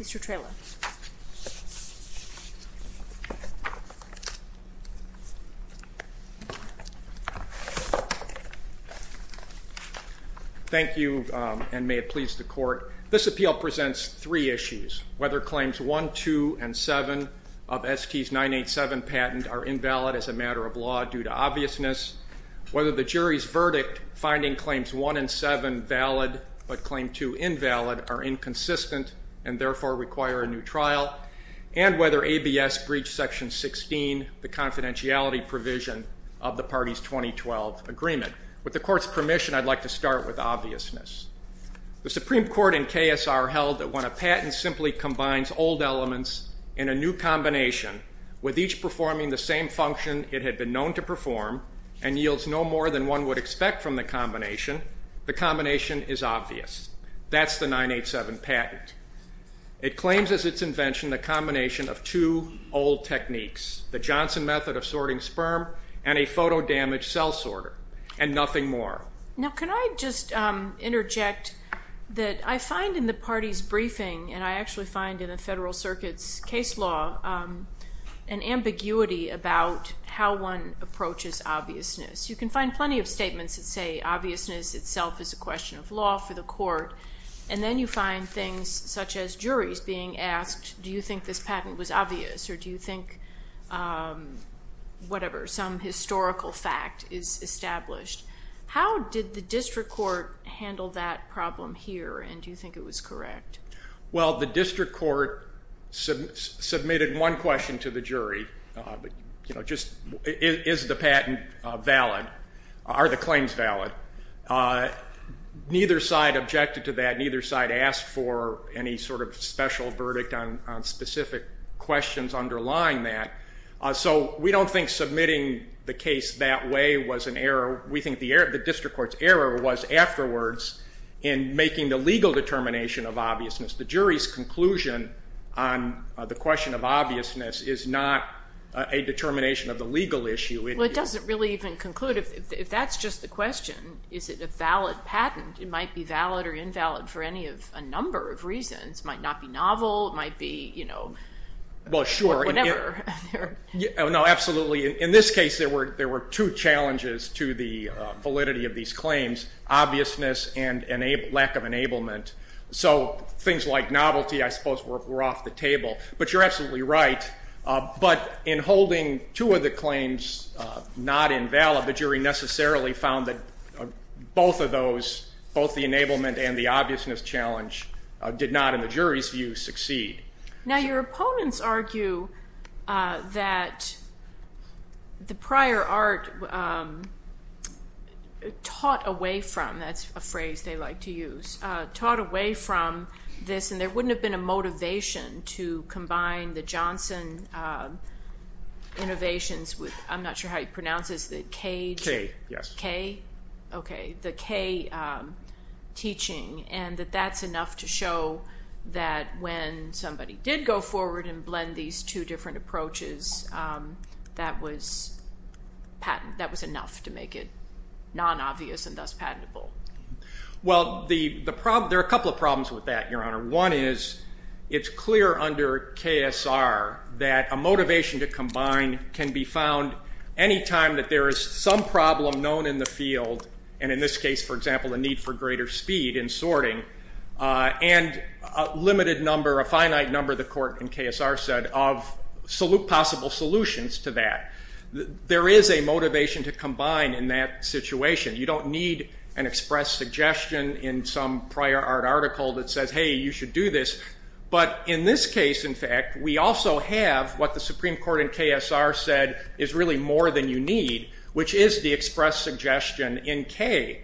Mr. Trela. Thank you, and may it please the Court. This appeal presents three issues, whether claims 1, 2, and 7 of ST's 987 patent are invalid as a matter of law due to obviousness, whether the jury's verdict finding claims 1 and 7 valid but claim 2 invalid are inconsistent and therefore require a new trial, and whether ABS breached Section 16, the confidentiality provision of the party's 2012 agreement. With the Court's permission, I'd like to start with obviousness. The Supreme Court in KSR held that when a patent simply combines old elements in a new combination, with each performing the same function it had been known to perform and yields no more than one would expect from the combination, the combination is obvious. That's the 987 patent. It claims as its invention the combination of two old techniques, the Johnson method of sorting sperm and a photo-damaged cell sorter, and nothing more. Now can I just interject that I find in the party's briefing, and I actually find in the Federal Circuit's case law, an ambiguity about how one approaches obviousness. You can find plenty of statements that say obviousness itself is a question of law for the Court, and then you find things such as juries being asked, do you think this patent was obvious, or do you think whatever, some historical fact is established. How did the District Court handle that problem here, and do you think it was correct? Well, the District Court submitted one question to the jury, is the patent valid, are the claims valid? Neither side objected to that, neither side asked for any sort of special verdict on specific questions underlying that. So we don't think submitting the case that way was an error. The District Court's error was afterwards in making the legal determination of obviousness. The jury's conclusion on the question of obviousness is not a determination of the legal issue. Well, it doesn't really even conclude. If that's just the question, is it a valid patent? It might be valid or invalid for any of a number of reasons. Might not be novel, might be whatever. No, absolutely. In this case, there were two challenges to the validity of these claims, obviousness and lack of enablement. So things like novelty, I suppose, were off the table. But you're absolutely right. But in holding two of the claims not invalid, the jury necessarily found that both of those, both the enablement and the obviousness challenge, did not, in the jury's view, succeed. Now, your opponents argue that the prior art taught away from, that's a phrase they like to use, taught away from this. And there wouldn't have been a motivation to combine the Johnson innovations with, I'm not sure how you pronounce this, the K teaching. And that that's enough to show that when somebody did go forward and blend these two different approaches, that was enough to make it non-obvious and thus patentable. Well, there are a couple of problems with that, Your Honor. One is, it's clear under KSR that a motivation to combine can be found any time that there is some problem known in the field, and in this case, for example, a need for greater speed in sorting, and a limited number, a finite number, the court in KSR said, of possible solutions to that. There is a motivation to combine in that situation. You don't need an express suggestion in some prior art article that says, hey, you should do this. But in this case, in fact, we also have what the Supreme Court in KSR said is really more than you need, which is the express suggestion in K.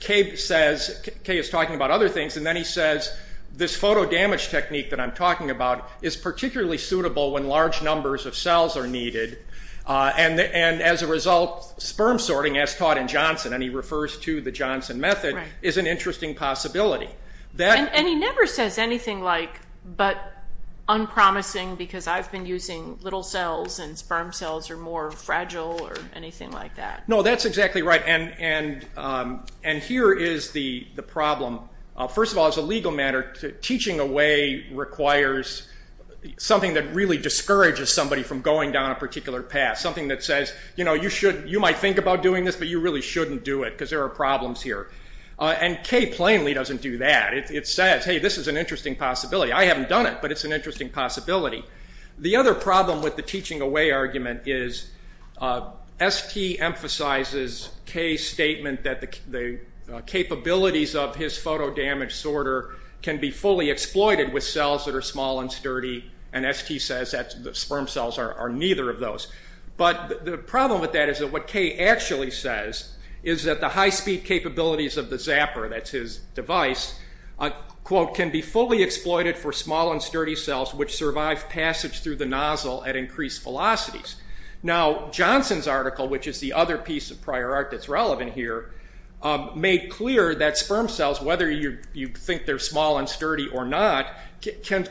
K says, K is talking about other things, and then he says, this photo damage technique that I'm talking about is particularly suitable when large numbers of cells are needed. And as a result, sperm sorting, as taught in Johnson, and he refers to the Johnson method, is an interesting possibility. And he never says anything like, but unpromising, because I've been using little cells, and sperm cells are more fragile, or anything like that. No, that's exactly right. And here is the problem. First of all, as a legal matter, teaching away requires something that really discourages somebody from going down a particular path, something that says, you know, you might think about doing this, but you really shouldn't do it, because there are problems here. And K plainly doesn't do that. It says, hey, this is an interesting possibility. I haven't done it, but it's an interesting possibility. The other problem with the teaching away argument is ST emphasizes K's statement that the capabilities of his photo damage sorter can be fully exploited with cells that are small and sturdy, and ST says that sperm cells are neither of those. But the problem with that is that what K actually says is that the high speed capabilities of the Zapper, that's his device, quote, can be fully exploited for small and sturdy cells which survive passage through the nozzle at increased velocities. Now, Johnson's article, which is the other piece of prior art that's relevant here, made clear that sperm cells, whether you think they're small and sturdy or not,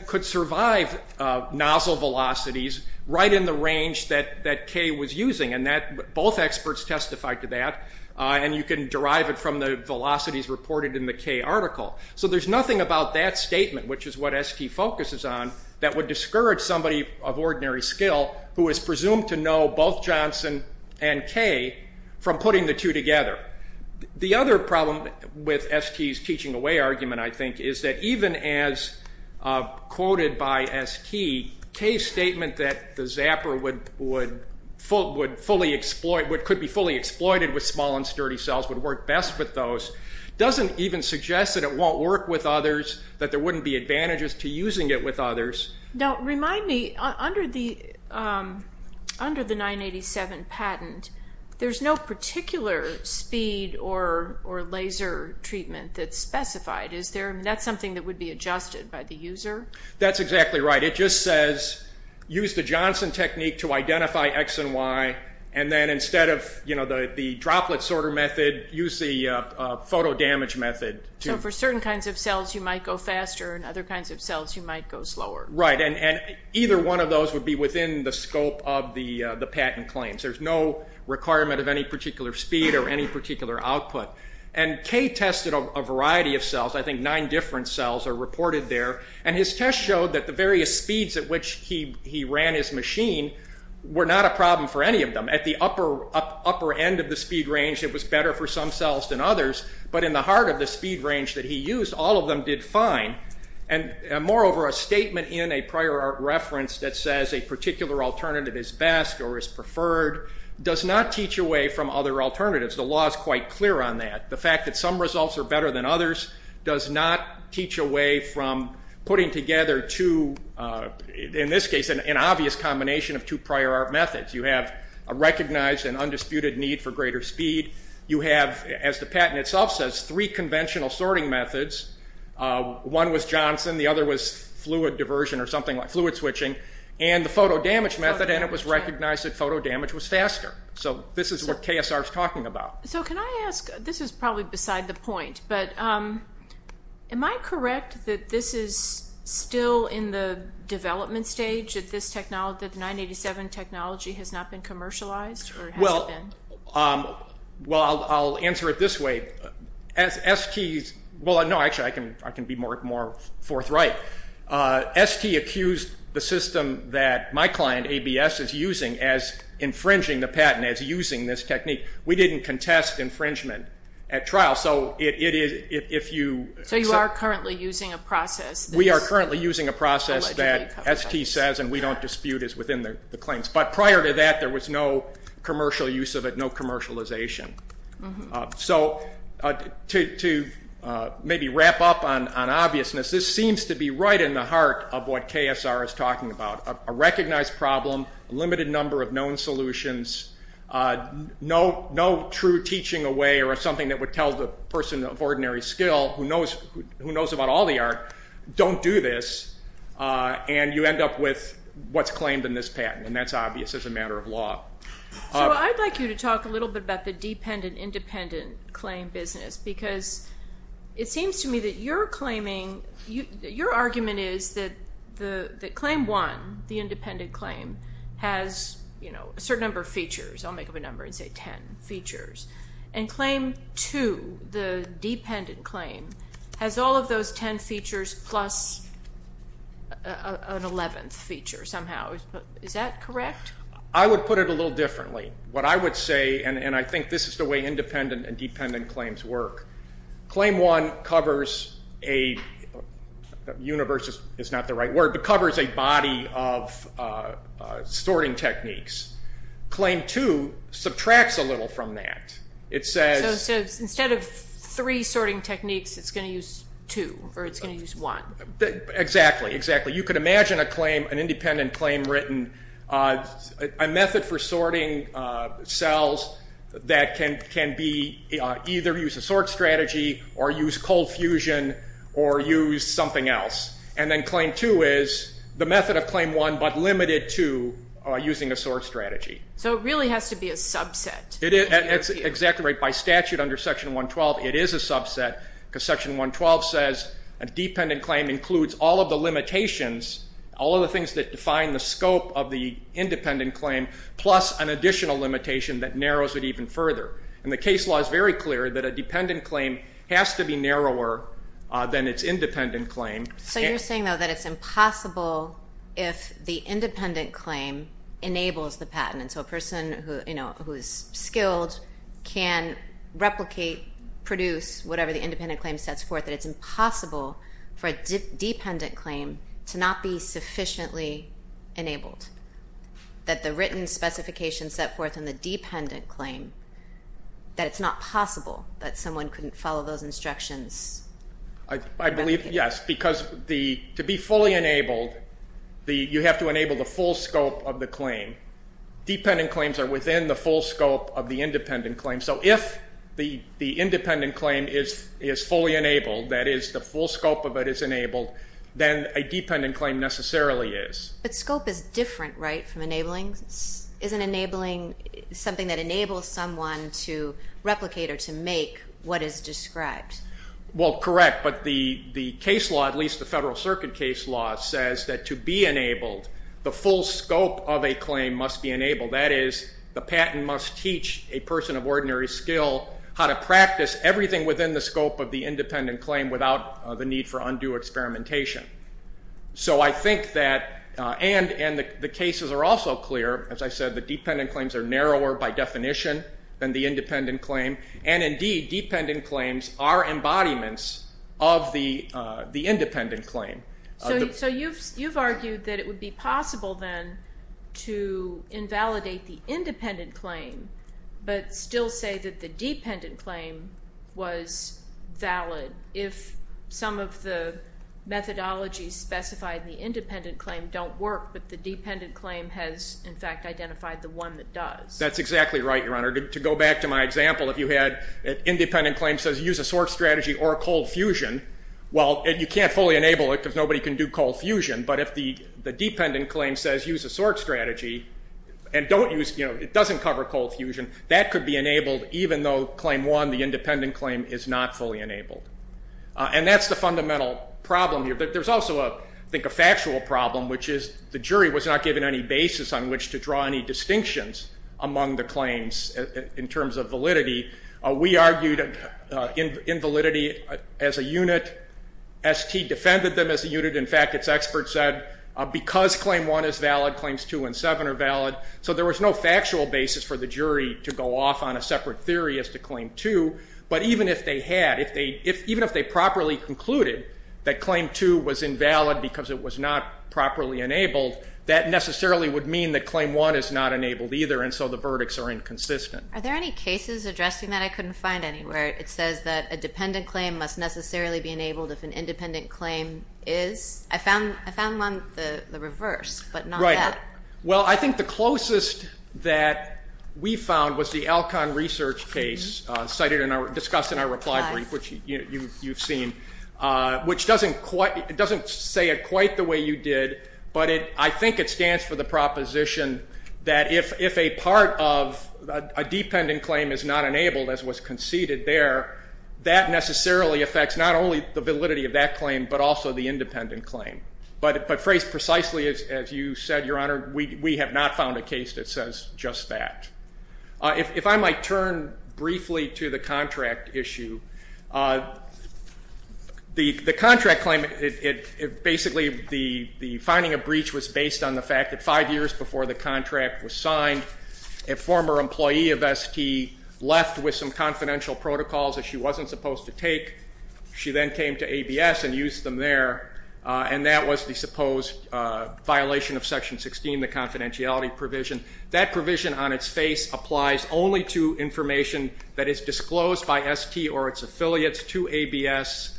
could survive nozzle velocities right in the range that K was using. And both experts testified to that. And you can derive it from the velocities reported in the K article. So there's nothing about that statement, which is what ST focuses on, that would discourage somebody of ordinary skill who is presumed to know both Johnson and K from putting the two together. The other problem with ST's teaching away argument, I think, is that even as quoted by ST, K's statement that the Zapper could be fully exploited with small and sturdy cells would work best with those doesn't even suggest that it won't work with others, that there wouldn't be advantages to using it with others. Now, remind me, under the 987 patent, there's no particular speed or laser treatment that's specified. Is there? That's something that would be adjusted by the user? That's exactly right. It just says, use the Johnson technique to identify X and Y. And then instead of the droplet sorter method, use the photo damage method. So for certain kinds of cells, you might go faster, and other kinds of cells, you might go slower. Right, and either one of those would be within the scope of the patent claims. There's no requirement of any particular speed or any particular output. And K tested a variety of cells. I think nine different cells are reported there. And his test showed that the various speeds at which he ran his machine were not a problem for any of them. At the upper end of the speed range, it was better for some cells than others. But in the heart of the speed range that he used, all of them did fine. And moreover, a statement in a prior art reference that says a particular alternative is best or is preferred does not teach away from other alternatives. The law is quite clear on that. The fact that some results are better than others does not teach away from putting together, in this case, an obvious combination of two prior art methods. You have a recognized and undisputed need for greater speed. You have, as the patent itself says, three conventional sorting methods. One was Johnson. The other was fluid diversion or something like fluid switching. And the photo damage method, and it was recognized that photo damage was faster. So this is what KSR is talking about. So can I ask, this is probably beside the point, but am I correct that this is still in the development stage that this technology, the 987 technology, has not been commercialized? Well, I'll answer it this way. As ST's, well, no, actually, I can be more forthright. ST accused the system that my client, ABS, is using as infringing the patent, as using this technique. We didn't contest infringement at trial. So it is, if you. So you are currently using a process. We are currently using a process that ST says, and we don't dispute, is within the claims. But prior to that, there was no commercial use of it, no commercialization. So to maybe wrap up on obviousness, this seems to be right in the heart of what KSR is talking about. A recognized problem, a limited number of known solutions, no true teaching away or something that would tell the person of ordinary skill who knows about all the art, don't do this, and you end up with what's claimed in this patent. And that's obvious as a matter of law. So I'd like you to talk a little bit about the dependent-independent claim business. Because it seems to me that you're claiming, your argument is that claim one, the independent claim, has a certain number of features. I'll make up a number and say 10 features. And claim two, the dependent claim, has all of those 10 features plus an 11th feature somehow. Is that correct? I would put it a little differently. What I would say, and I think this is the way independent and dependent claims work, claim one covers a, universe is not the right word, but covers a body of sorting techniques. Claim two subtracts a little from that. It says, Instead of three sorting techniques, it's going to use two, or it's going to use one. Exactly, exactly. You could imagine a claim, an independent claim written, a method for sorting cells that can either use a sort strategy or use cold fusion or use something else. And then claim two is the method of claim one, but limited to using a sort strategy. So it really has to be a subset. That's exactly right. By statute under section 112, it is a subset. Because section 112 says, a dependent claim includes all of the limitations, all of the things that define the scope of the independent claim, plus an additional limitation that narrows it even further. And the case law is very clear that a dependent claim has to be narrower than its independent claim. So you're saying, though, that it's impossible if the independent claim enables the patent. And so a person who is skilled can replicate, produce whatever the independent claim sets forth, that it's impossible for a dependent claim to not be sufficiently enabled. That the written specifications set forth in the dependent claim, that it's not possible that someone couldn't follow those instructions. I believe, yes. Because to be fully enabled, you have to enable the full scope of the claim. Dependent claims are within the full scope of the independent claim. So if the independent claim is fully enabled, that is, the full scope of it is enabled, then a dependent claim necessarily is. But scope is different, right, from enabling? Isn't enabling something that enables someone to replicate or to make what is described? Well, correct. But the case law, at least the Federal Circuit case law, says that to be enabled, the full scope of a claim must be enabled. That is, the patent must teach a person of ordinary skill how to practice everything within the scope of the independent claim without the need for undue experimentation. So I think that, and the cases are also clear, as I said, the dependent claims are narrower by definition than the independent claim. And indeed, dependent claims are embodiments of the independent claim. So you've argued that it would be possible, then, to invalidate the independent claim, but still say that the dependent claim was valid if some of the methodologies specified in the independent claim don't work, but the dependent claim has, in fact, identified the one that does. That's exactly right, Your Honor. To go back to my example, if you had an independent claim says use a source strategy or a cold fusion, well, you can't fully enable it because nobody can do cold fusion. But if the dependent claim says use a source strategy and don't use, it doesn't cover cold fusion, that could be enabled even though claim one, the independent claim, is not fully enabled. And that's the fundamental problem here. But there's also, I think, a factual problem, which is the jury was not given any basis on which to draw any distinctions among the claims in terms of validity. We argued invalidity as a unit. ST defended them as a unit. In fact, its experts said, because claim one is valid, claims two and seven are valid. So there was no factual basis for the jury to go off on a separate theory as to claim two. But even if they had, even if they properly concluded that claim two was invalid because it was not properly enabled, that necessarily would mean that claim one is not enabled either. And so the verdicts are inconsistent. Are there any cases addressing that I couldn't find anywhere? It says that a dependent claim must necessarily be enabled if an independent claim is. I found one, the reverse, but not that. Well, I think the closest that we found was the Alcon research case discussed in our reply brief, which you've seen, which doesn't say it quite the way you did. But I think it stands for the proposition that if a part of a dependent claim is not enabled, as was conceded there, that necessarily affects not only the validity of that claim, but also the independent claim. But phrased precisely as you said, Your Honor, we have not found a case that says just that. If I might turn briefly to the contract issue, the contract claim, basically the finding of breach was based on the fact that five years before the contract was signed, a former employee of ST left with some confidential protocols that she wasn't supposed to take. She then came to ABS and used them there. And that was the supposed violation of Section 16, the confidentiality provision. That provision on its face applies only to information that is disclosed by ST or its affiliates to ABS.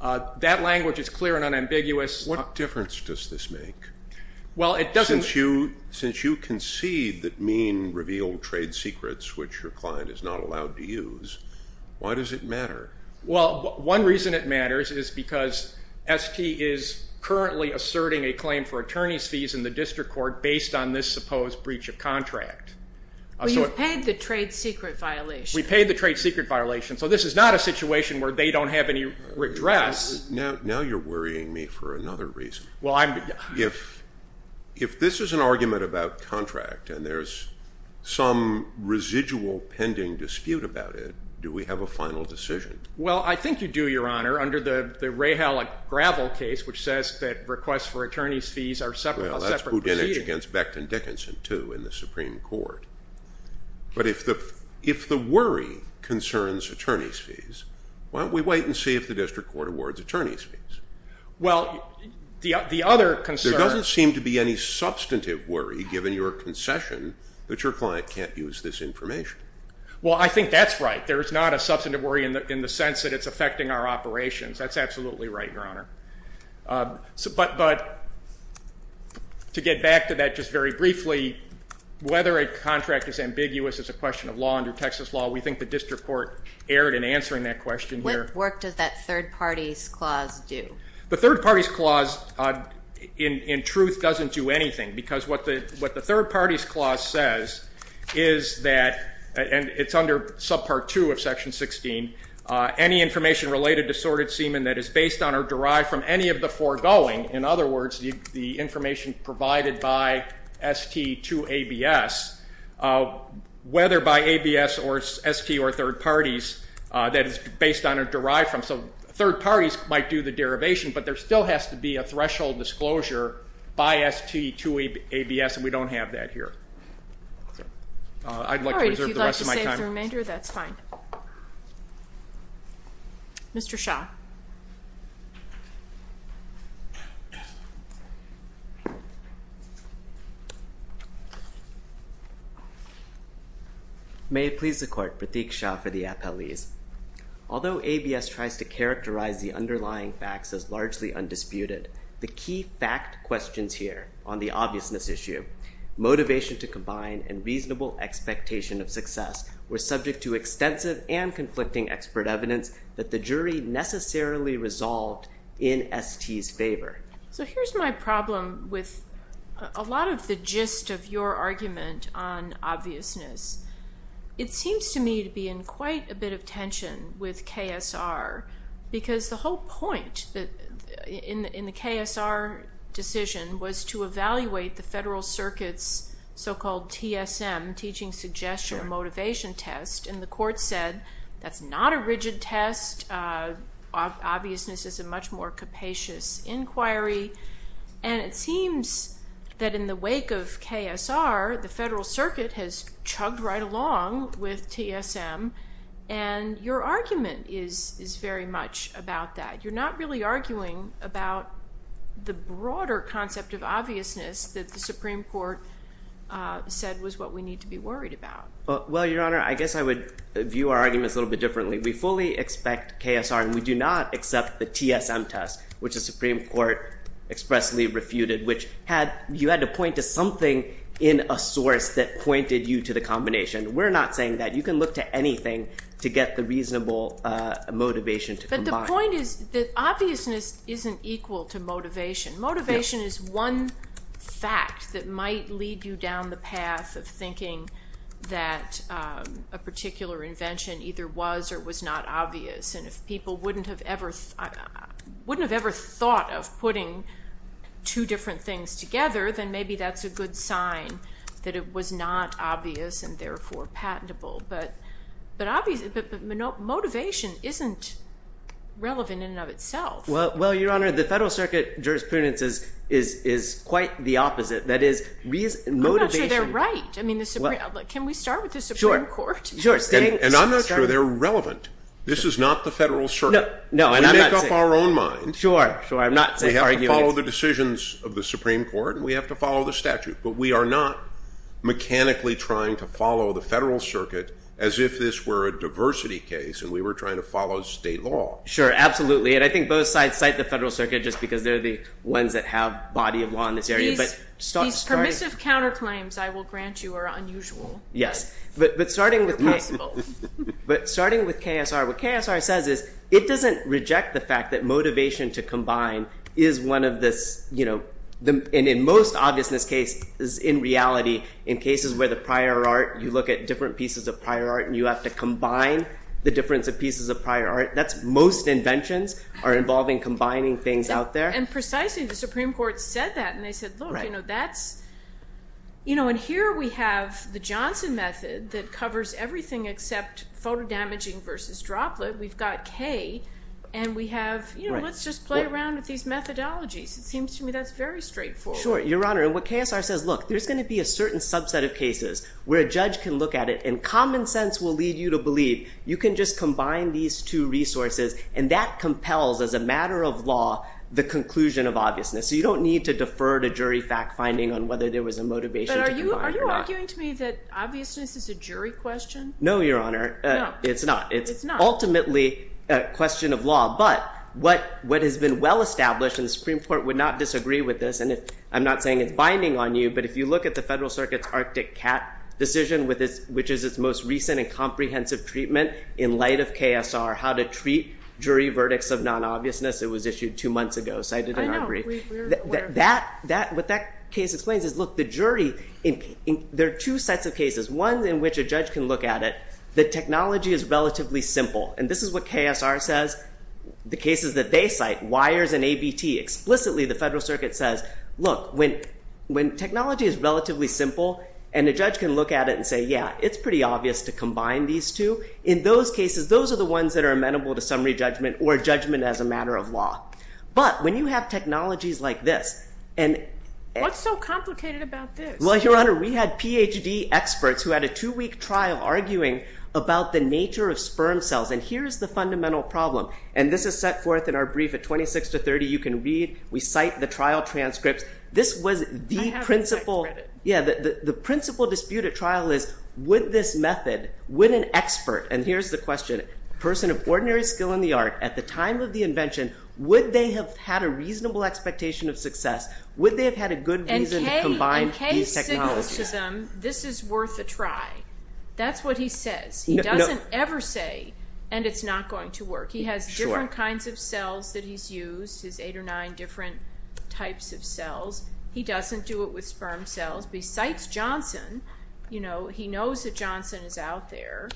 That language is clear and unambiguous. What difference does this make? Well, it doesn't. Since you concede that Mean revealed trade secrets, which your client is not allowed to use, why does it matter? Well, one reason it matters is because ST is currently asserting a claim for attorney's fees in the district court based on this supposed breach of contract. Well, you've paid the trade secret violation. We paid the trade secret violation. So this is not a situation where they don't have any redress. Now you're worrying me for another reason. Well, I'm just. If this is an argument about contract and there's some residual pending dispute about it, do we have a final decision? Well, I think you do, Your Honor, under the Rahalic gravel case, which says that requests for attorney's fees are separate from separate proceedings. Well, that's Boudinich against Becton Dickinson, too, in the Supreme Court. But if the worry concerns attorney's fees, why don't we wait and see if the district court awards attorney's fees? Well, the other concern. There doesn't seem to be any substantive worry, given your concession, that your client can't use this information. Well, I think that's right. There is not a substantive worry in the sense that it's affecting our operations. That's absolutely right, Your Honor. But to get back to that just very briefly, whether a contract is ambiguous is a question of law. Under Texas law, we think the district court erred in answering that question. What work does that third party's clause do? The third party's clause, in truth, doesn't do anything. Because what the third party's clause says is that, and it's under subpart 2 of section 16, any information related to sordid semen that is based on or derived from any of the foregoing, in other words, the information provided by ST to ABS, whether by ABS or ST or third parties, that is based on or derived from. So third parties might do the derivation, but there still has to be a threshold disclosure by ST to ABS, and we don't have that here. I'd like to reserve the rest of my time. All right, if you'd like to save the remainder, that's fine. Mr. Shah. May it please the court, Pratik Shah for the appellees. Although ABS tries to characterize the underlying facts as largely undisputed, the key fact questions here on the obviousness issue, motivation to combine and reasonable expectation of success, were subject to extensive and conflicting expert evidence that the jury necessarily resolved in ST's favor. So here's my problem with a lot of the gist of your argument on obviousness. It seems to me to be in quite a bit of tension with KSR, because the whole point in the KSR decision was to evaluate the Federal Circuit's so-called TSM, Teaching Suggestion Motivation Test. And the court said, that's not a rigid test. Obviousness is a much more capacious inquiry. And it seems that in the wake of KSR, the Federal Circuit has chugged right along with TSM. And your argument is very much about that. You're not really arguing about the broader concept of obviousness that the Supreme Court said was what we need to be worried about. Well, Your Honor, I guess I would view our arguments a little bit differently. We fully expect KSR, and we do not accept the TSM test, which the Supreme Court expressly refuted, which you had to point to something in a source that pointed you to the combination. We're not saying that. You can look to anything to get the reasonable motivation to combine. But the point is that obviousness isn't equal to motivation. Motivation is one fact that might lead you down the path of thinking that a particular invention either was or was not obvious. And if people wouldn't have ever thought of putting two different things together, then maybe that's a good sign that it was not obvious, and therefore patentable. But motivation isn't relevant in and of itself. Well, Your Honor, the Federal Circuit jurisprudence is quite the opposite. That is, motivation. I'm not sure they're right. I mean, can we start with the Supreme Court? Sure. And I'm not sure they're relevant. This is not the Federal Circuit. No, and I'm not saying. We make up our own mind. Sure, sure. I'm not saying arguing. We have to follow the decisions of the Supreme Court, and we have to follow the statute. But we are not mechanically trying to follow the Federal Circuit as if this were a diversity case, and we were trying to follow state law. Sure, absolutely. And I think both sides cite the Federal Circuit just because they're the ones that have body of law in this area. These permissive counterclaims, I will grant you, are unusual. Yes, but starting with KSR, what KSR says is it doesn't reject the fact that motivation to combine is one of this, and in most obviousness cases, in reality, in cases where the prior art, you look at different pieces of prior art and you have to combine the difference of pieces of prior art, that's most inventions are involving combining things out there. And precisely, the Supreme Court said that, and they said, look, that's. And here we have the Johnson method that covers everything except photo damaging versus droplet. We've got K, and we have, let's just play around with these methodologies. It seems to me that's very straightforward. Sure, Your Honor, and what KSR says, look, there's going to be a certain subset of cases where a judge can look at it, and common sense will lead you to believe you can just combine these two resources. And that compels, as a matter of law, the conclusion of obviousness. So you don't need to defer to jury fact-finding on whether there was a motivation to combine or not. But are you arguing to me that obviousness is a jury question? No, Your Honor, it's not. It's ultimately a question of law. But what has been well-established, and the Supreme Court would not disagree with this, and I'm not saying it's binding on you, but if you look at the Federal Circuit's Arctic CAT decision, which is its most recent and comprehensive treatment in light of KSR, how to treat jury verdicts of non-obviousness. It was issued two months ago, cited in our brief. What that case explains is, look, the jury, there are two sets of cases. One in which a judge can look at it. The technology is relatively simple. And this is what KSR says. The cases that they cite, wires and ABT. Explicitly, the Federal Circuit says, look, when technology is relatively simple, and a judge can look at it and say, yeah, it's pretty obvious to combine these two, in those cases, those are the ones that are amenable to summary judgment, or judgment as a matter of law. But when you have technologies like this, and- What's so complicated about this? Well, Your Honor, we had PhD experts who had a two-week trial arguing about the nature of sperm cells, and here's the fundamental problem. And this is set forth in our brief at 26 to 30. You can read. We cite the trial transcripts. This was the principal- I have the text credit. Yeah, the principal dispute at trial is, would this method, would an expert, and here's the question, person of ordinary skill in the art, at the time of the invention, would they have had a reasonable expectation of success? Would they have had a good reason to combine these technologies? And Kay signals to them, this is worth a try. That's what he says. He doesn't ever say, and it's not going to work. He has different kinds of cells that he's used, his eight or nine different types of cells. He doesn't do it with sperm cells. Besides Johnson, he knows that Johnson is out there.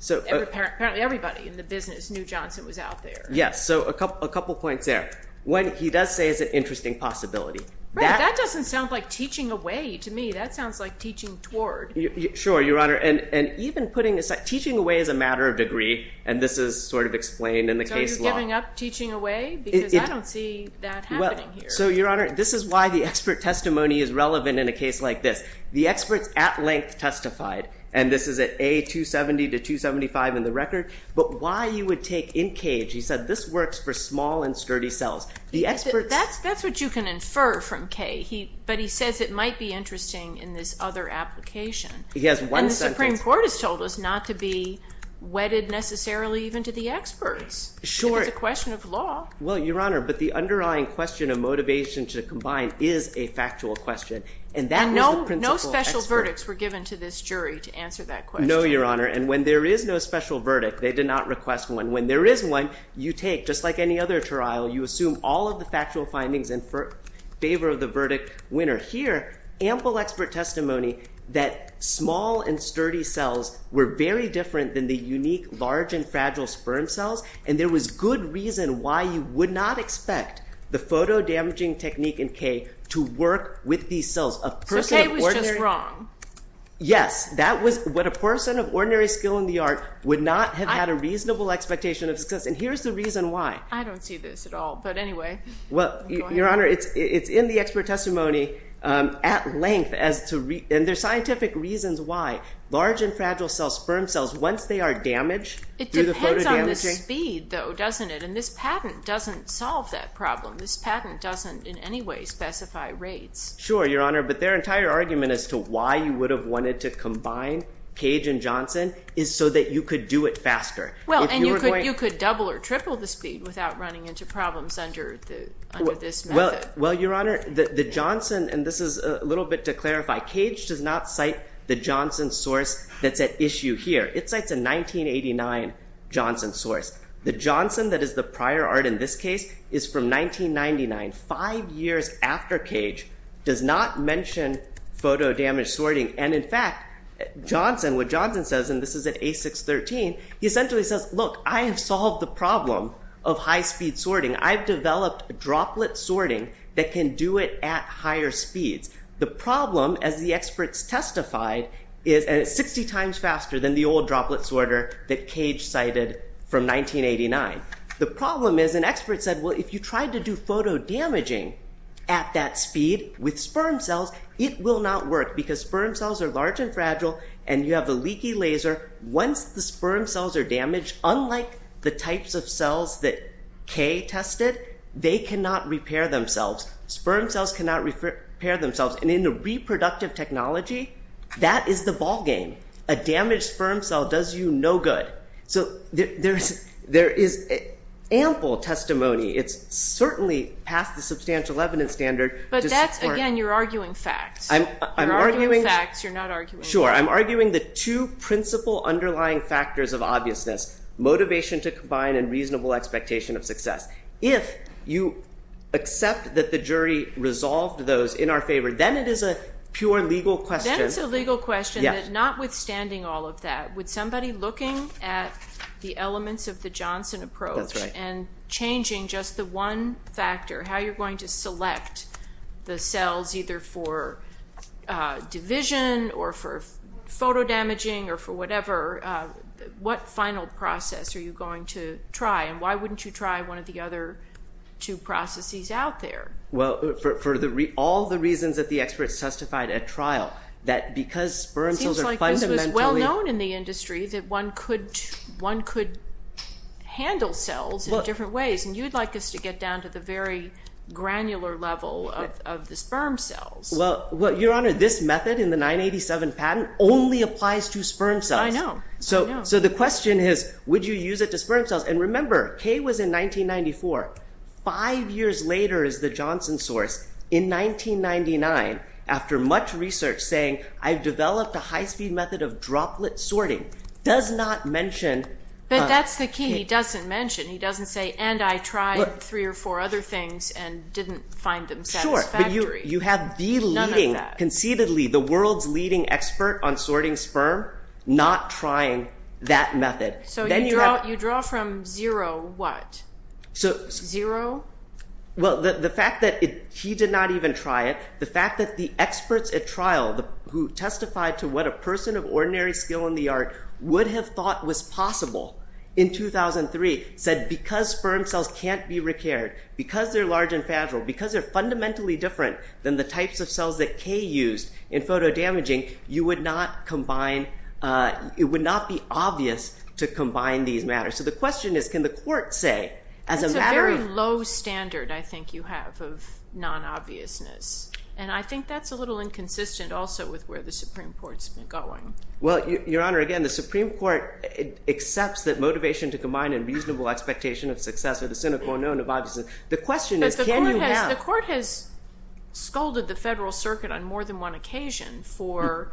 So apparently everybody in the business knew Johnson was out there. Yes, so a couple points there. What he does say is an interesting possibility. Right, that doesn't sound like teaching away to me. That sounds like teaching toward. Sure, Your Honor. And even putting aside, teaching away is a matter of degree, and this is sort of explained in the case law. So you're giving up teaching away? Because I don't see that happening here. So Your Honor, this is why the expert testimony is relevant in a case like this. The experts at length testified, and this is at A270 to 275 in the record. But why you would take in cage, he said this works for small and sturdy cells. The experts. That's what you can infer from Kay. But he says it might be interesting in this other application. He has one sentence. And the Supreme Court has told us not to be wedded necessarily even to the experts. Sure. It's a question of law. Well, Your Honor, but the underlying question of motivation to combine is a factual question. And that was the principle of experts. And no special verdicts were given to this jury to answer that question. No, Your Honor. And when there is no special verdict, they did not request one. When there is one, you take, just like any other trial, you assume all of the factual findings in favor of the verdict winner. Here, ample expert testimony that small and sturdy cells were very different than the unique, large, and fragile sperm cells. And there was good reason why you would not expect the photo-damaging technique in Kay to work with these cells. So Kay was just wrong. Yes, that was what a person of ordinary skill in the art would not have had a reasonable expectation of success. And here's the reason why. I don't see this at all. But anyway. Well, Your Honor, it's in the expert testimony at length. And there's scientific reasons why. Large and fragile cell sperm cells, once they are damaged, do the photo-damaging. It depends on the speed, though, doesn't it? And this patent doesn't solve that problem. This patent doesn't in any way specify rates. Sure, Your Honor. But their entire argument as to why you would have wanted to combine Kay and Johnson is so that you could do it faster. Well, and you could double or triple the speed without running into problems under this method. Well, Your Honor, the Johnson, and this is a little bit to clarify, Kay does not cite the Johnson source that's at issue here. It cites a 1989 Johnson source. The Johnson that is the prior art in this case is from 1999, five years after Kay does not mention photo-damaged sorting. And in fact, Johnson, what Johnson says, and this is at A613, he essentially says, look, I have solved the problem of high-speed sorting. I've developed droplet sorting that can do it at higher speeds. The problem, as the experts testified, is 60 times faster than the old droplet sorter that Kay cited from 1989. The problem is, an expert said, well, if you tried to do photo-damaging at that speed with sperm cells, it will not work because sperm cells are large and fragile and you have a leaky laser. Once the sperm cells are damaged, unlike the types of cells that Kay tested, they cannot repair themselves. Sperm cells cannot repair themselves. And in a reproductive technology, that is the ballgame. A damaged sperm cell does you no good. So there is ample testimony. It's certainly past the substantial evidence standard. But that's, again, you're arguing facts. I'm arguing facts. You're not arguing facts. Sure, I'm arguing the two principal underlying factors of obviousness, motivation to combine and reasonable expectation of success. If you accept that the jury resolved those in our favor, then it is a pure legal question. Then it's a legal question that, notwithstanding all of that, with somebody looking at the elements of the Johnson approach and changing just the one factor, how you're going to select the cells, either for division or for photo-damaging or for whatever, what final process are you going to try? And why wouldn't you try one of the other two processes out there? Well, for all the reasons that the experts testified at trial, that because sperm cells are fundamentally- Seems like this was well known in the industry that one could handle cells in different ways. And you'd like us to get down to the very granular level of the sperm cells. Well, Your Honor, this method in the 987 patent only applies to sperm cells. I know, I know. So the question is, would you use it to sperm cells? And remember, Kay was in 1994. Five years later is the Johnson source, in 1999, after much research, saying, I've developed a high-speed method of droplet sorting, does not mention- But that's the key, he doesn't mention. He doesn't say, and I tried three or four other things and didn't find them satisfactory. Sure, but you have the leading- None of that. Conceitedly, the world's leading expert on sorting sperm, not trying that method. So you draw from zero what? So- Zero? Well, the fact that he did not even try it, the fact that the experts at trial, who testified to what a person of ordinary skill in the art would have thought was possible in 2003, said because sperm cells can't be recared, because they're large and fragile, because they're fundamentally different than the types of cells that Kay used in photodamaging, you would not combine, it would not be obvious to combine these matters. So the question is, can the court say, as a matter of- That's a very low standard, I think you have, of non-obviousness. And I think that's a little inconsistent also with where the Supreme Court's been going. Well, Your Honor, again, the Supreme Court accepts that motivation to combine a reasonable expectation of success or the cynical unknown of obviousness, the question is, can you have- The court has scolded the Federal Circuit on more than one occasion for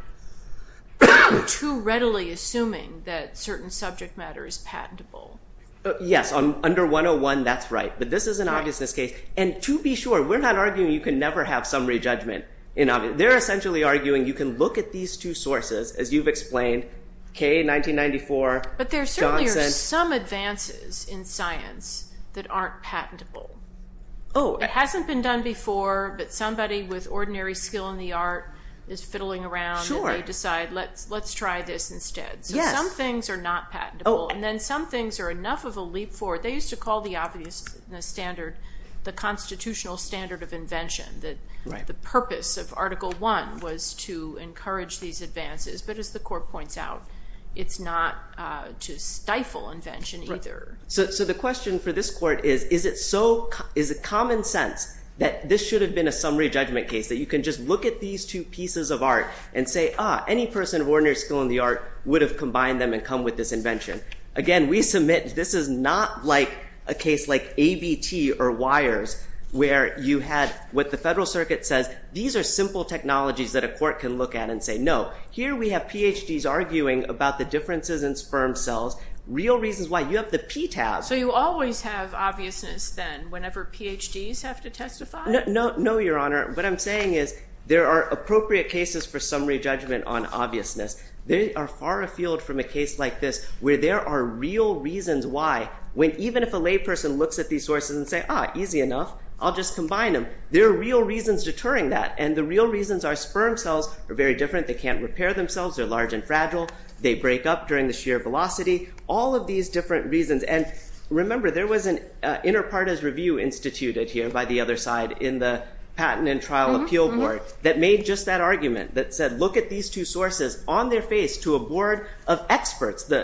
too readily assuming that certain subject matter is patentable. Yes, under 101, that's right, but this is an obviousness case. And to be sure, we're not arguing you can never have summary judgment. They're essentially arguing you can look at these two sources, as you've explained, Kay in 1994, Johnson- But there certainly are some advances in science that aren't patentable. Oh- It hasn't been done before, but somebody with ordinary skill in the art is fiddling around and they decide, let's try this instead. So some things are not patentable, and then some things are enough of a leap forward. They used to call the obviousness standard the constitutional standard of invention, that the purpose of Article I was to encourage these advances. But as the court points out, it's not to stifle invention either. So the question for this court is, is it common sense that this should have been a summary judgment case, that you can just look at these two pieces of art and say, ah, any person of ordinary skill in the art would have combined them and come with this invention. Again, we submit this is not like a case like ABT or WIRES, where you had what the federal circuit says, these are simple technologies that a court can look at and say, no. Here we have PhDs arguing about the differences in sperm cells, real reasons why. You have the PTAS. So you always have obviousness then, whenever PhDs have to testify? No, Your Honor. What I'm saying is, there are appropriate cases for summary judgment on obviousness. They are far afield from a case like this, where there are real reasons why, when even if a layperson looks at these sources and say, ah, easy enough, I'll just combine them. There are real reasons deterring that. And the real reasons are sperm cells are very different. They can't repair themselves. They're large and fragile. They break up during the shear velocity. All of these different reasons. And remember, there was an inter partes review instituted here by the other side in the Patent and Trial Appeal Board that made just that argument, that said, look at these two sources on their face to a board of experts, the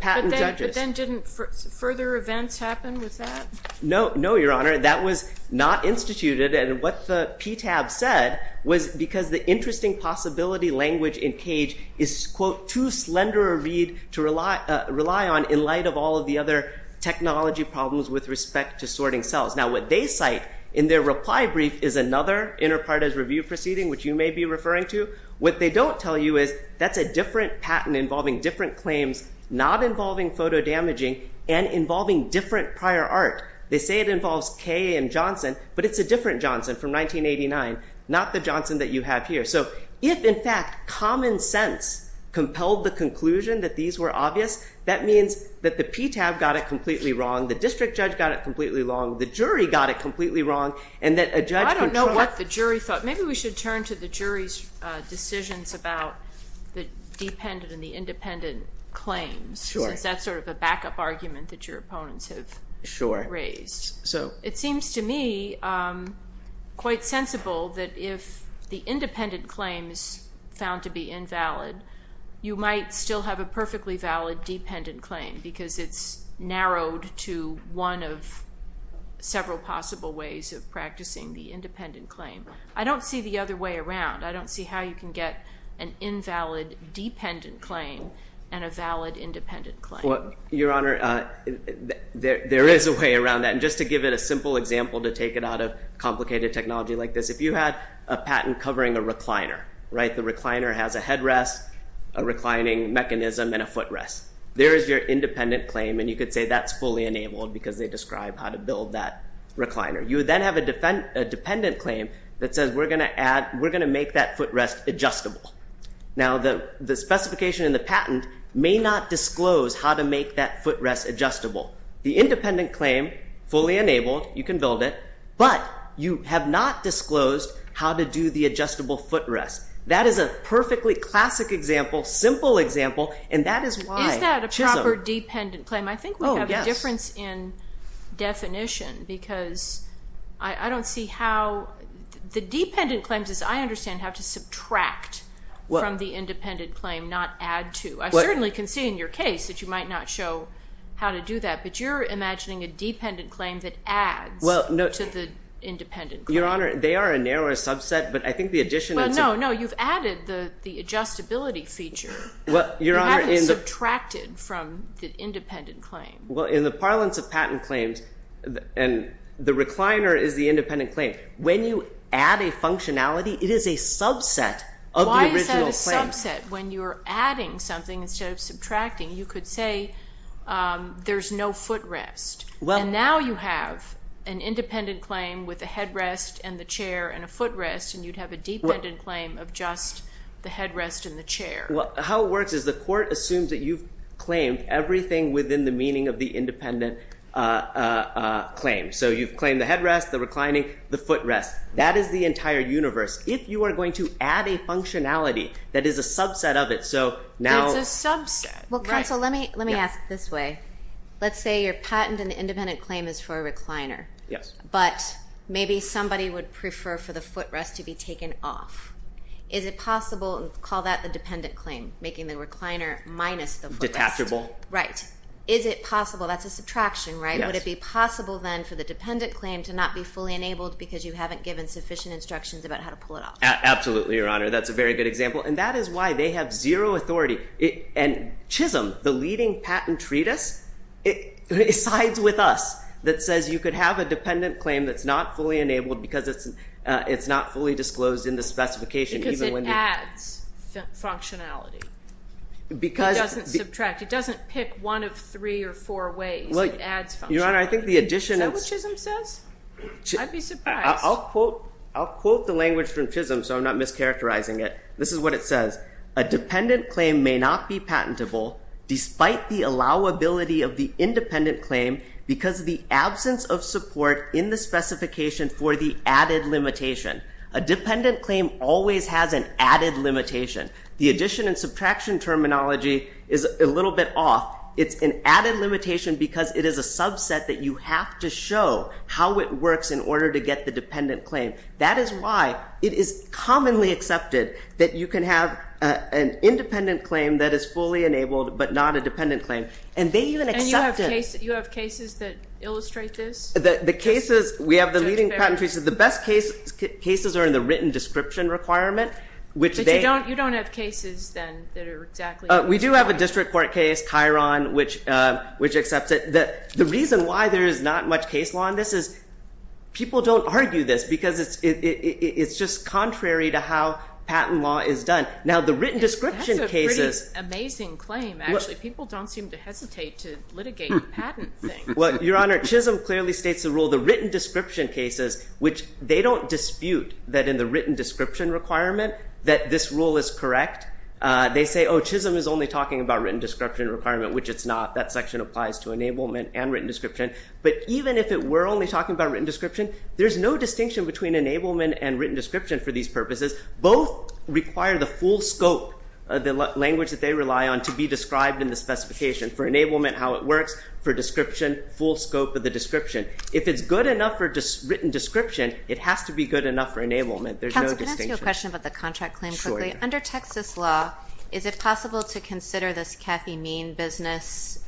patent judges. But then didn't further events happen with that? No, Your Honor. That was not instituted. And what the PTAB said was, because the interesting possibility language in CAGE is, quote, too slender a read to rely on in light of all of the other technology problems with respect to sorting cells. Now, what they cite in their reply brief is another inter partes review proceeding, which you may be referring to. What they don't tell you is, that's a different patent involving different claims, not involving photo damaging, and involving different prior art. They say it involves Kay and Johnson, but it's a different Johnson from 1989, not the Johnson that you have here. So if, in fact, common sense compelled the conclusion that these were obvious, that means that the PTAB got it completely wrong, the district judge got it completely wrong, the jury got it completely wrong, and that a judge could try. Well, I don't know what the jury thought. Maybe we should turn to the jury's decisions about the dependent and the independent claims. Sure. Since that's sort of a backup argument that your opponents have raised. So it seems to me quite sensible that if the independent claim is found to be invalid, you might still have a perfectly valid dependent claim, because it's narrowed to one of several possible ways of practicing the independent claim. I don't see the other way around. I don't see how you can get an invalid dependent claim and a valid independent claim. Your Honor, there is a way around that. And just to give it a simple example to take it out of complicated technology like this, if you had a patent covering a recliner, right? The recliner has a headrest, a reclining mechanism, and a footrest. There is your independent claim, and you could say that's fully enabled because they describe how to build that recliner. You would then have a dependent claim that says we're gonna make that footrest adjustable. Now, the specification in the patent may not disclose how to make that footrest adjustable. The independent claim, fully enabled, you can build it, but you have not disclosed how to do the adjustable footrest. That is a perfectly classic example, simple example, and that is why Chisholm- Is that a proper dependent claim? I think we have a difference in definition because I don't see how, the dependent claims, as I understand, have to subtract from the independent claim, not add to. I certainly can see in your case that you might not show how to do that, but you're imagining a dependent claim that adds to the independent claim. Your Honor, they are a narrower subset, but I think the addition- No, no, you've added the adjustability feature. Well, Your Honor- You haven't subtracted from the independent claim. Well, in the parlance of patent claims, and the recliner is the independent claim, when you add a functionality, it is a subset of the original claim. Why is that a subset? When you're adding something instead of subtracting, you could say there's no footrest, and now you have an independent claim with a headrest and the chair and a footrest, and you'd have a dependent claim of just the headrest and the chair. How it works is the court assumes that you've claimed everything within the meaning of the independent claim. So you've claimed the headrest, the reclining, the footrest. That is the entire universe. If you are going to add a functionality that is a subset of it, so now- It's a subset, right. Well, counsel, let me ask this way. Let's say your patent and independent claim is for a recliner, but maybe somebody would prefer for the footrest to be taken off. Is it possible, and call that the dependent claim, making the recliner minus the footrest. Detachable. Right. Is it possible, that's a subtraction, right? Would it be possible then for the dependent claim to not be fully enabled because you haven't given sufficient instructions about how to pull it off? Absolutely, Your Honor. That's a very good example, and that is why they have zero authority. And Chisholm, the leading patent treatise, it sides with us, that says you could have a dependent claim that's not fully enabled because it's not fully disclosed in the specification, even when the- Because it adds functionality. Because- It doesn't subtract. It doesn't pick one of three or four ways. It adds functionality. Your Honor, I think the addition of- Is that what Chisholm says? I'd be surprised. I'll quote the language from Chisholm, so I'm not mischaracterizing it. This is what it says. A dependent claim may not be patentable despite the allowability of the independent claim because of the absence of support in the specification for the added limitation. A dependent claim always has an added limitation. The addition and subtraction terminology is a little bit off. It's an added limitation because it is a subset that you have to show how it works in order to get the dependent claim. That is why it is commonly accepted that you can have an independent claim that is fully enabled but not a dependent claim. And they even accept it- And you have cases that illustrate this? We have the leading patent cases. The best cases are in the written description requirement. Which they- But you don't have cases then that are exactly- We do have a district court case, Chiron, which accepts it. The reason why there is not much case law on this is people don't argue this because it's just contrary to how patent law is done. Now, the written description cases- That's a pretty amazing claim, actually. People don't seem to hesitate to litigate patent things. Well, your honor, Chisholm clearly states the rule, the written description cases, which they don't dispute that in the written description requirement that this rule is correct. They say, oh, Chisholm is only talking about written description requirement, which it's not. That section applies to enablement and written description. But even if it were only talking about written description, there's no distinction between enablement and written description for these purposes. Both require the full scope of the language that they rely on to be described in the specification for enablement, how it works, for description, full scope of the description. If it's good enough for written description, it has to be good enough for enablement. There's no distinction. Counselor, can I ask you a question about the contract claim quickly? Sure, yeah. Under Texas law, is it possible to consider this Cathy Mean business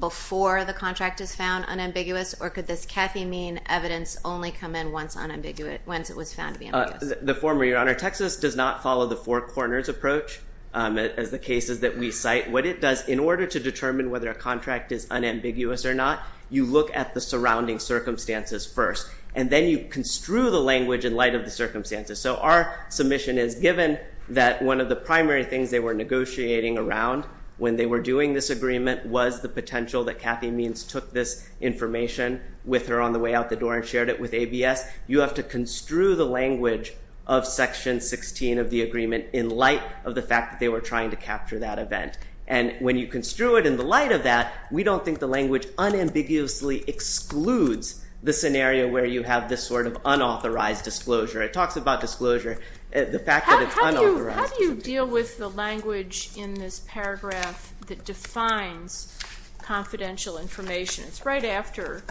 before the contract is found unambiguous, or could this Cathy Mean evidence only come in once it was found to be ambiguous? The former, your honor. Texas does not follow the four corners approach as the cases that we cite. What it does, in order to determine whether a contract is unambiguous or not, you look at the surrounding circumstances first. And then you construe the language in light of the circumstances. So our submission is given that one of the primary things they were negotiating around when they were doing this agreement was the potential that Cathy Means took this information with her on the way out the door and shared it with ABS. You have to construe the language of section 16 of the agreement in light of the fact they were trying to capture that event. And when you construe it in the light of that, we don't think the language unambiguously excludes the scenario where you have this sort of unauthorized disclosure. It talks about disclosure, the fact that it's unauthorized. How do you deal with the language in this paragraph that defines confidential information? It's right after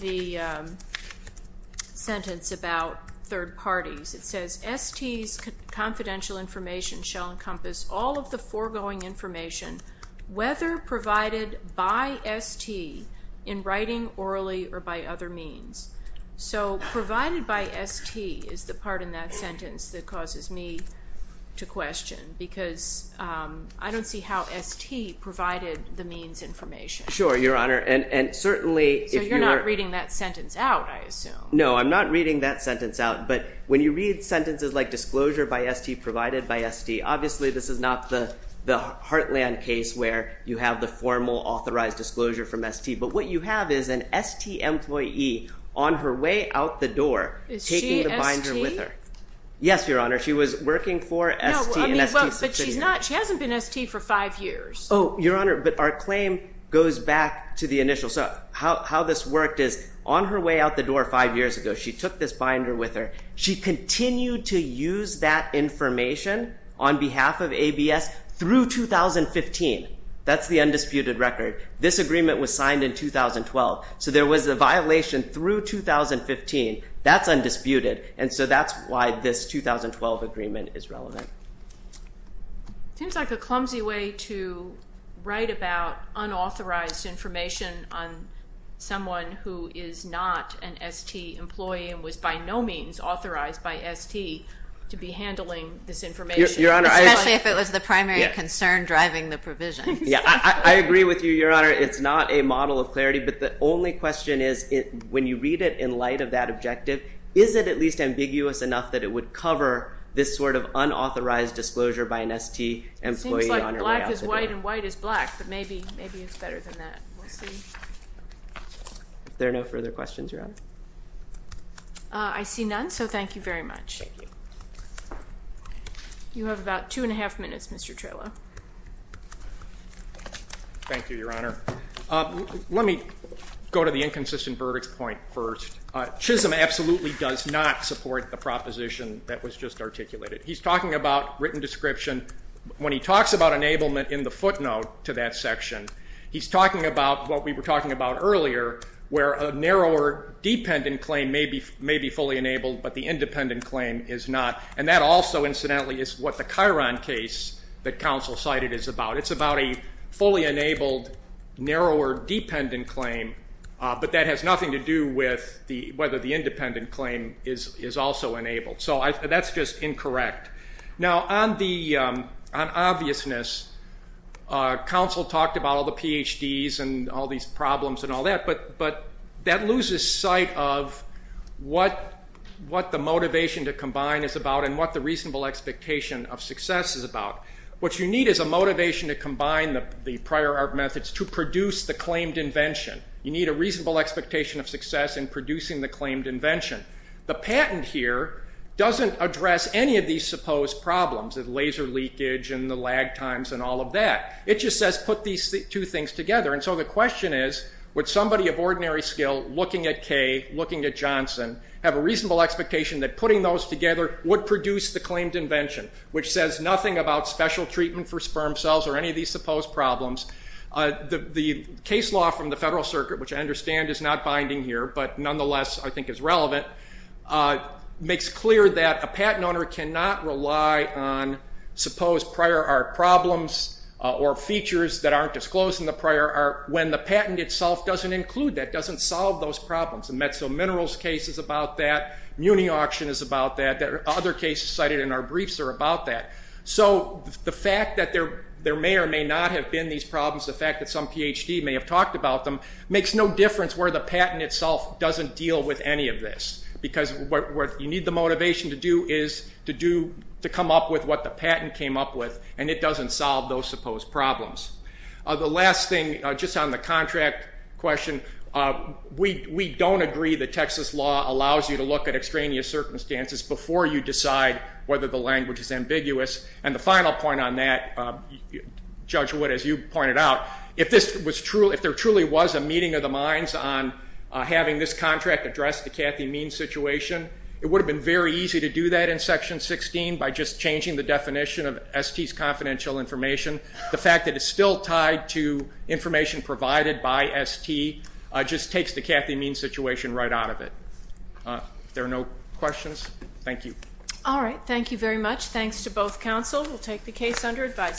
the sentence about third parties. It says, ST's confidential information shall encompass all of the foregoing information, whether provided by ST, in writing, orally, or by other means. So provided by ST is the part in that sentence that causes me to question because I don't see how ST provided the means information. Sure, Your Honor, and certainly if you were- So you're not reading that sentence out, I assume. No, I'm not reading that sentence out. But when you read sentences like disclosure by ST, provided by ST, obviously this is not the heartland case where you have the formal authorized disclosure from ST. But what you have is an ST employee on her way out the door- Is she ST? Taking the binder with her. Yes, Your Honor. She was working for ST and ST's subsidiary. She hasn't been ST for five years. Oh, Your Honor, but our claim goes back to the initial. So how this worked is, on her way out the door five years ago, she took this binder with her. She continued to use that information on behalf of ABS through 2015. That's the undisputed record. This agreement was signed in 2012. So there was a violation through 2015. That's undisputed. And so that's why this 2012 agreement is relevant. Seems like a clumsy way to write about unauthorized information on someone who is not an ST employee and was by no means authorized by ST to be handling this information. Your Honor, I- Especially if it was the primary concern driving the provision. Yeah, I agree with you, Your Honor. It's not a model of clarity. But the only question is, when you read it in light of that objective, is it at least ambiguous enough that it would cover this sort of unauthorized disclosure by an ST employee on her way out the door? It seems like black is white and white is black. But maybe it's better than that. We'll see. If there are no further questions, Your Honor. I see none. So thank you very much. Thank you. You have about two and a half minutes, Mr. Trelo. Thank you, Your Honor. Let me go to the inconsistent verdict point first. Chisholm absolutely does not support the proposition that was just articulated. He's talking about written description. When he talks about enablement in the footnote to that section, he's talking about what we were talking about earlier, where a narrower dependent claim may be fully enabled, but the independent claim is not. And that also, incidentally, is what the Chiron case that counsel cited is about. It's about a fully enabled, narrower dependent claim, but that has nothing to do with whether the independent claim is also enabled. So that's just incorrect. Now, on obviousness, counsel talked about all the PhDs and all these problems and all that, but that loses sight of what the motivation to combine is about and what the reasonable expectation of success is about. What you need is a motivation to combine the prior art methods to produce the claimed invention. You need a reasonable expectation of success in producing the claimed invention. The patent here doesn't address any of these supposed problems, the laser leakage and the lag times and all of that. It just says, put these two things together. And so the question is, would somebody of ordinary skill, looking at Kay, looking at Johnson, have a reasonable expectation that putting those together would produce the claimed invention, which says nothing about special treatment for sperm cells or any of these supposed problems. The case law from the Federal Circuit, which I understand is not binding here, but nonetheless, I think is relevant, makes clear that a patent owner cannot rely on supposed prior art problems or features that aren't disclosed in the prior art when the patent itself doesn't include that, doesn't solve those problems. The Metzl Minerals case is about that. Muni Auction is about that. There are other cases cited in our briefs are about that. So the fact that there may or may not have been these problems, the fact that some PhD may have talked about them, makes no difference where the patent itself doesn't deal with any of this, because what you need the motivation to do is to come up with what the patent came up with, and it doesn't solve those supposed problems. The last thing, just on the contract question, we don't agree that Texas law allows you to look at extraneous circumstances before you decide whether the language is ambiguous. And the final point on that, Judge Wood, as you pointed out, if there truly was a meeting of the minds on having this contract address the Cathy Mean situation, it would have been very easy to do that in Section 16 by just changing the definition of ST's confidential information. The fact that it's still tied to information provided by ST just takes the Cathy Mean situation right out of it. If there are no questions, thank you. All right, thank you very much. Thanks to both counsel. We'll take the case under advisement.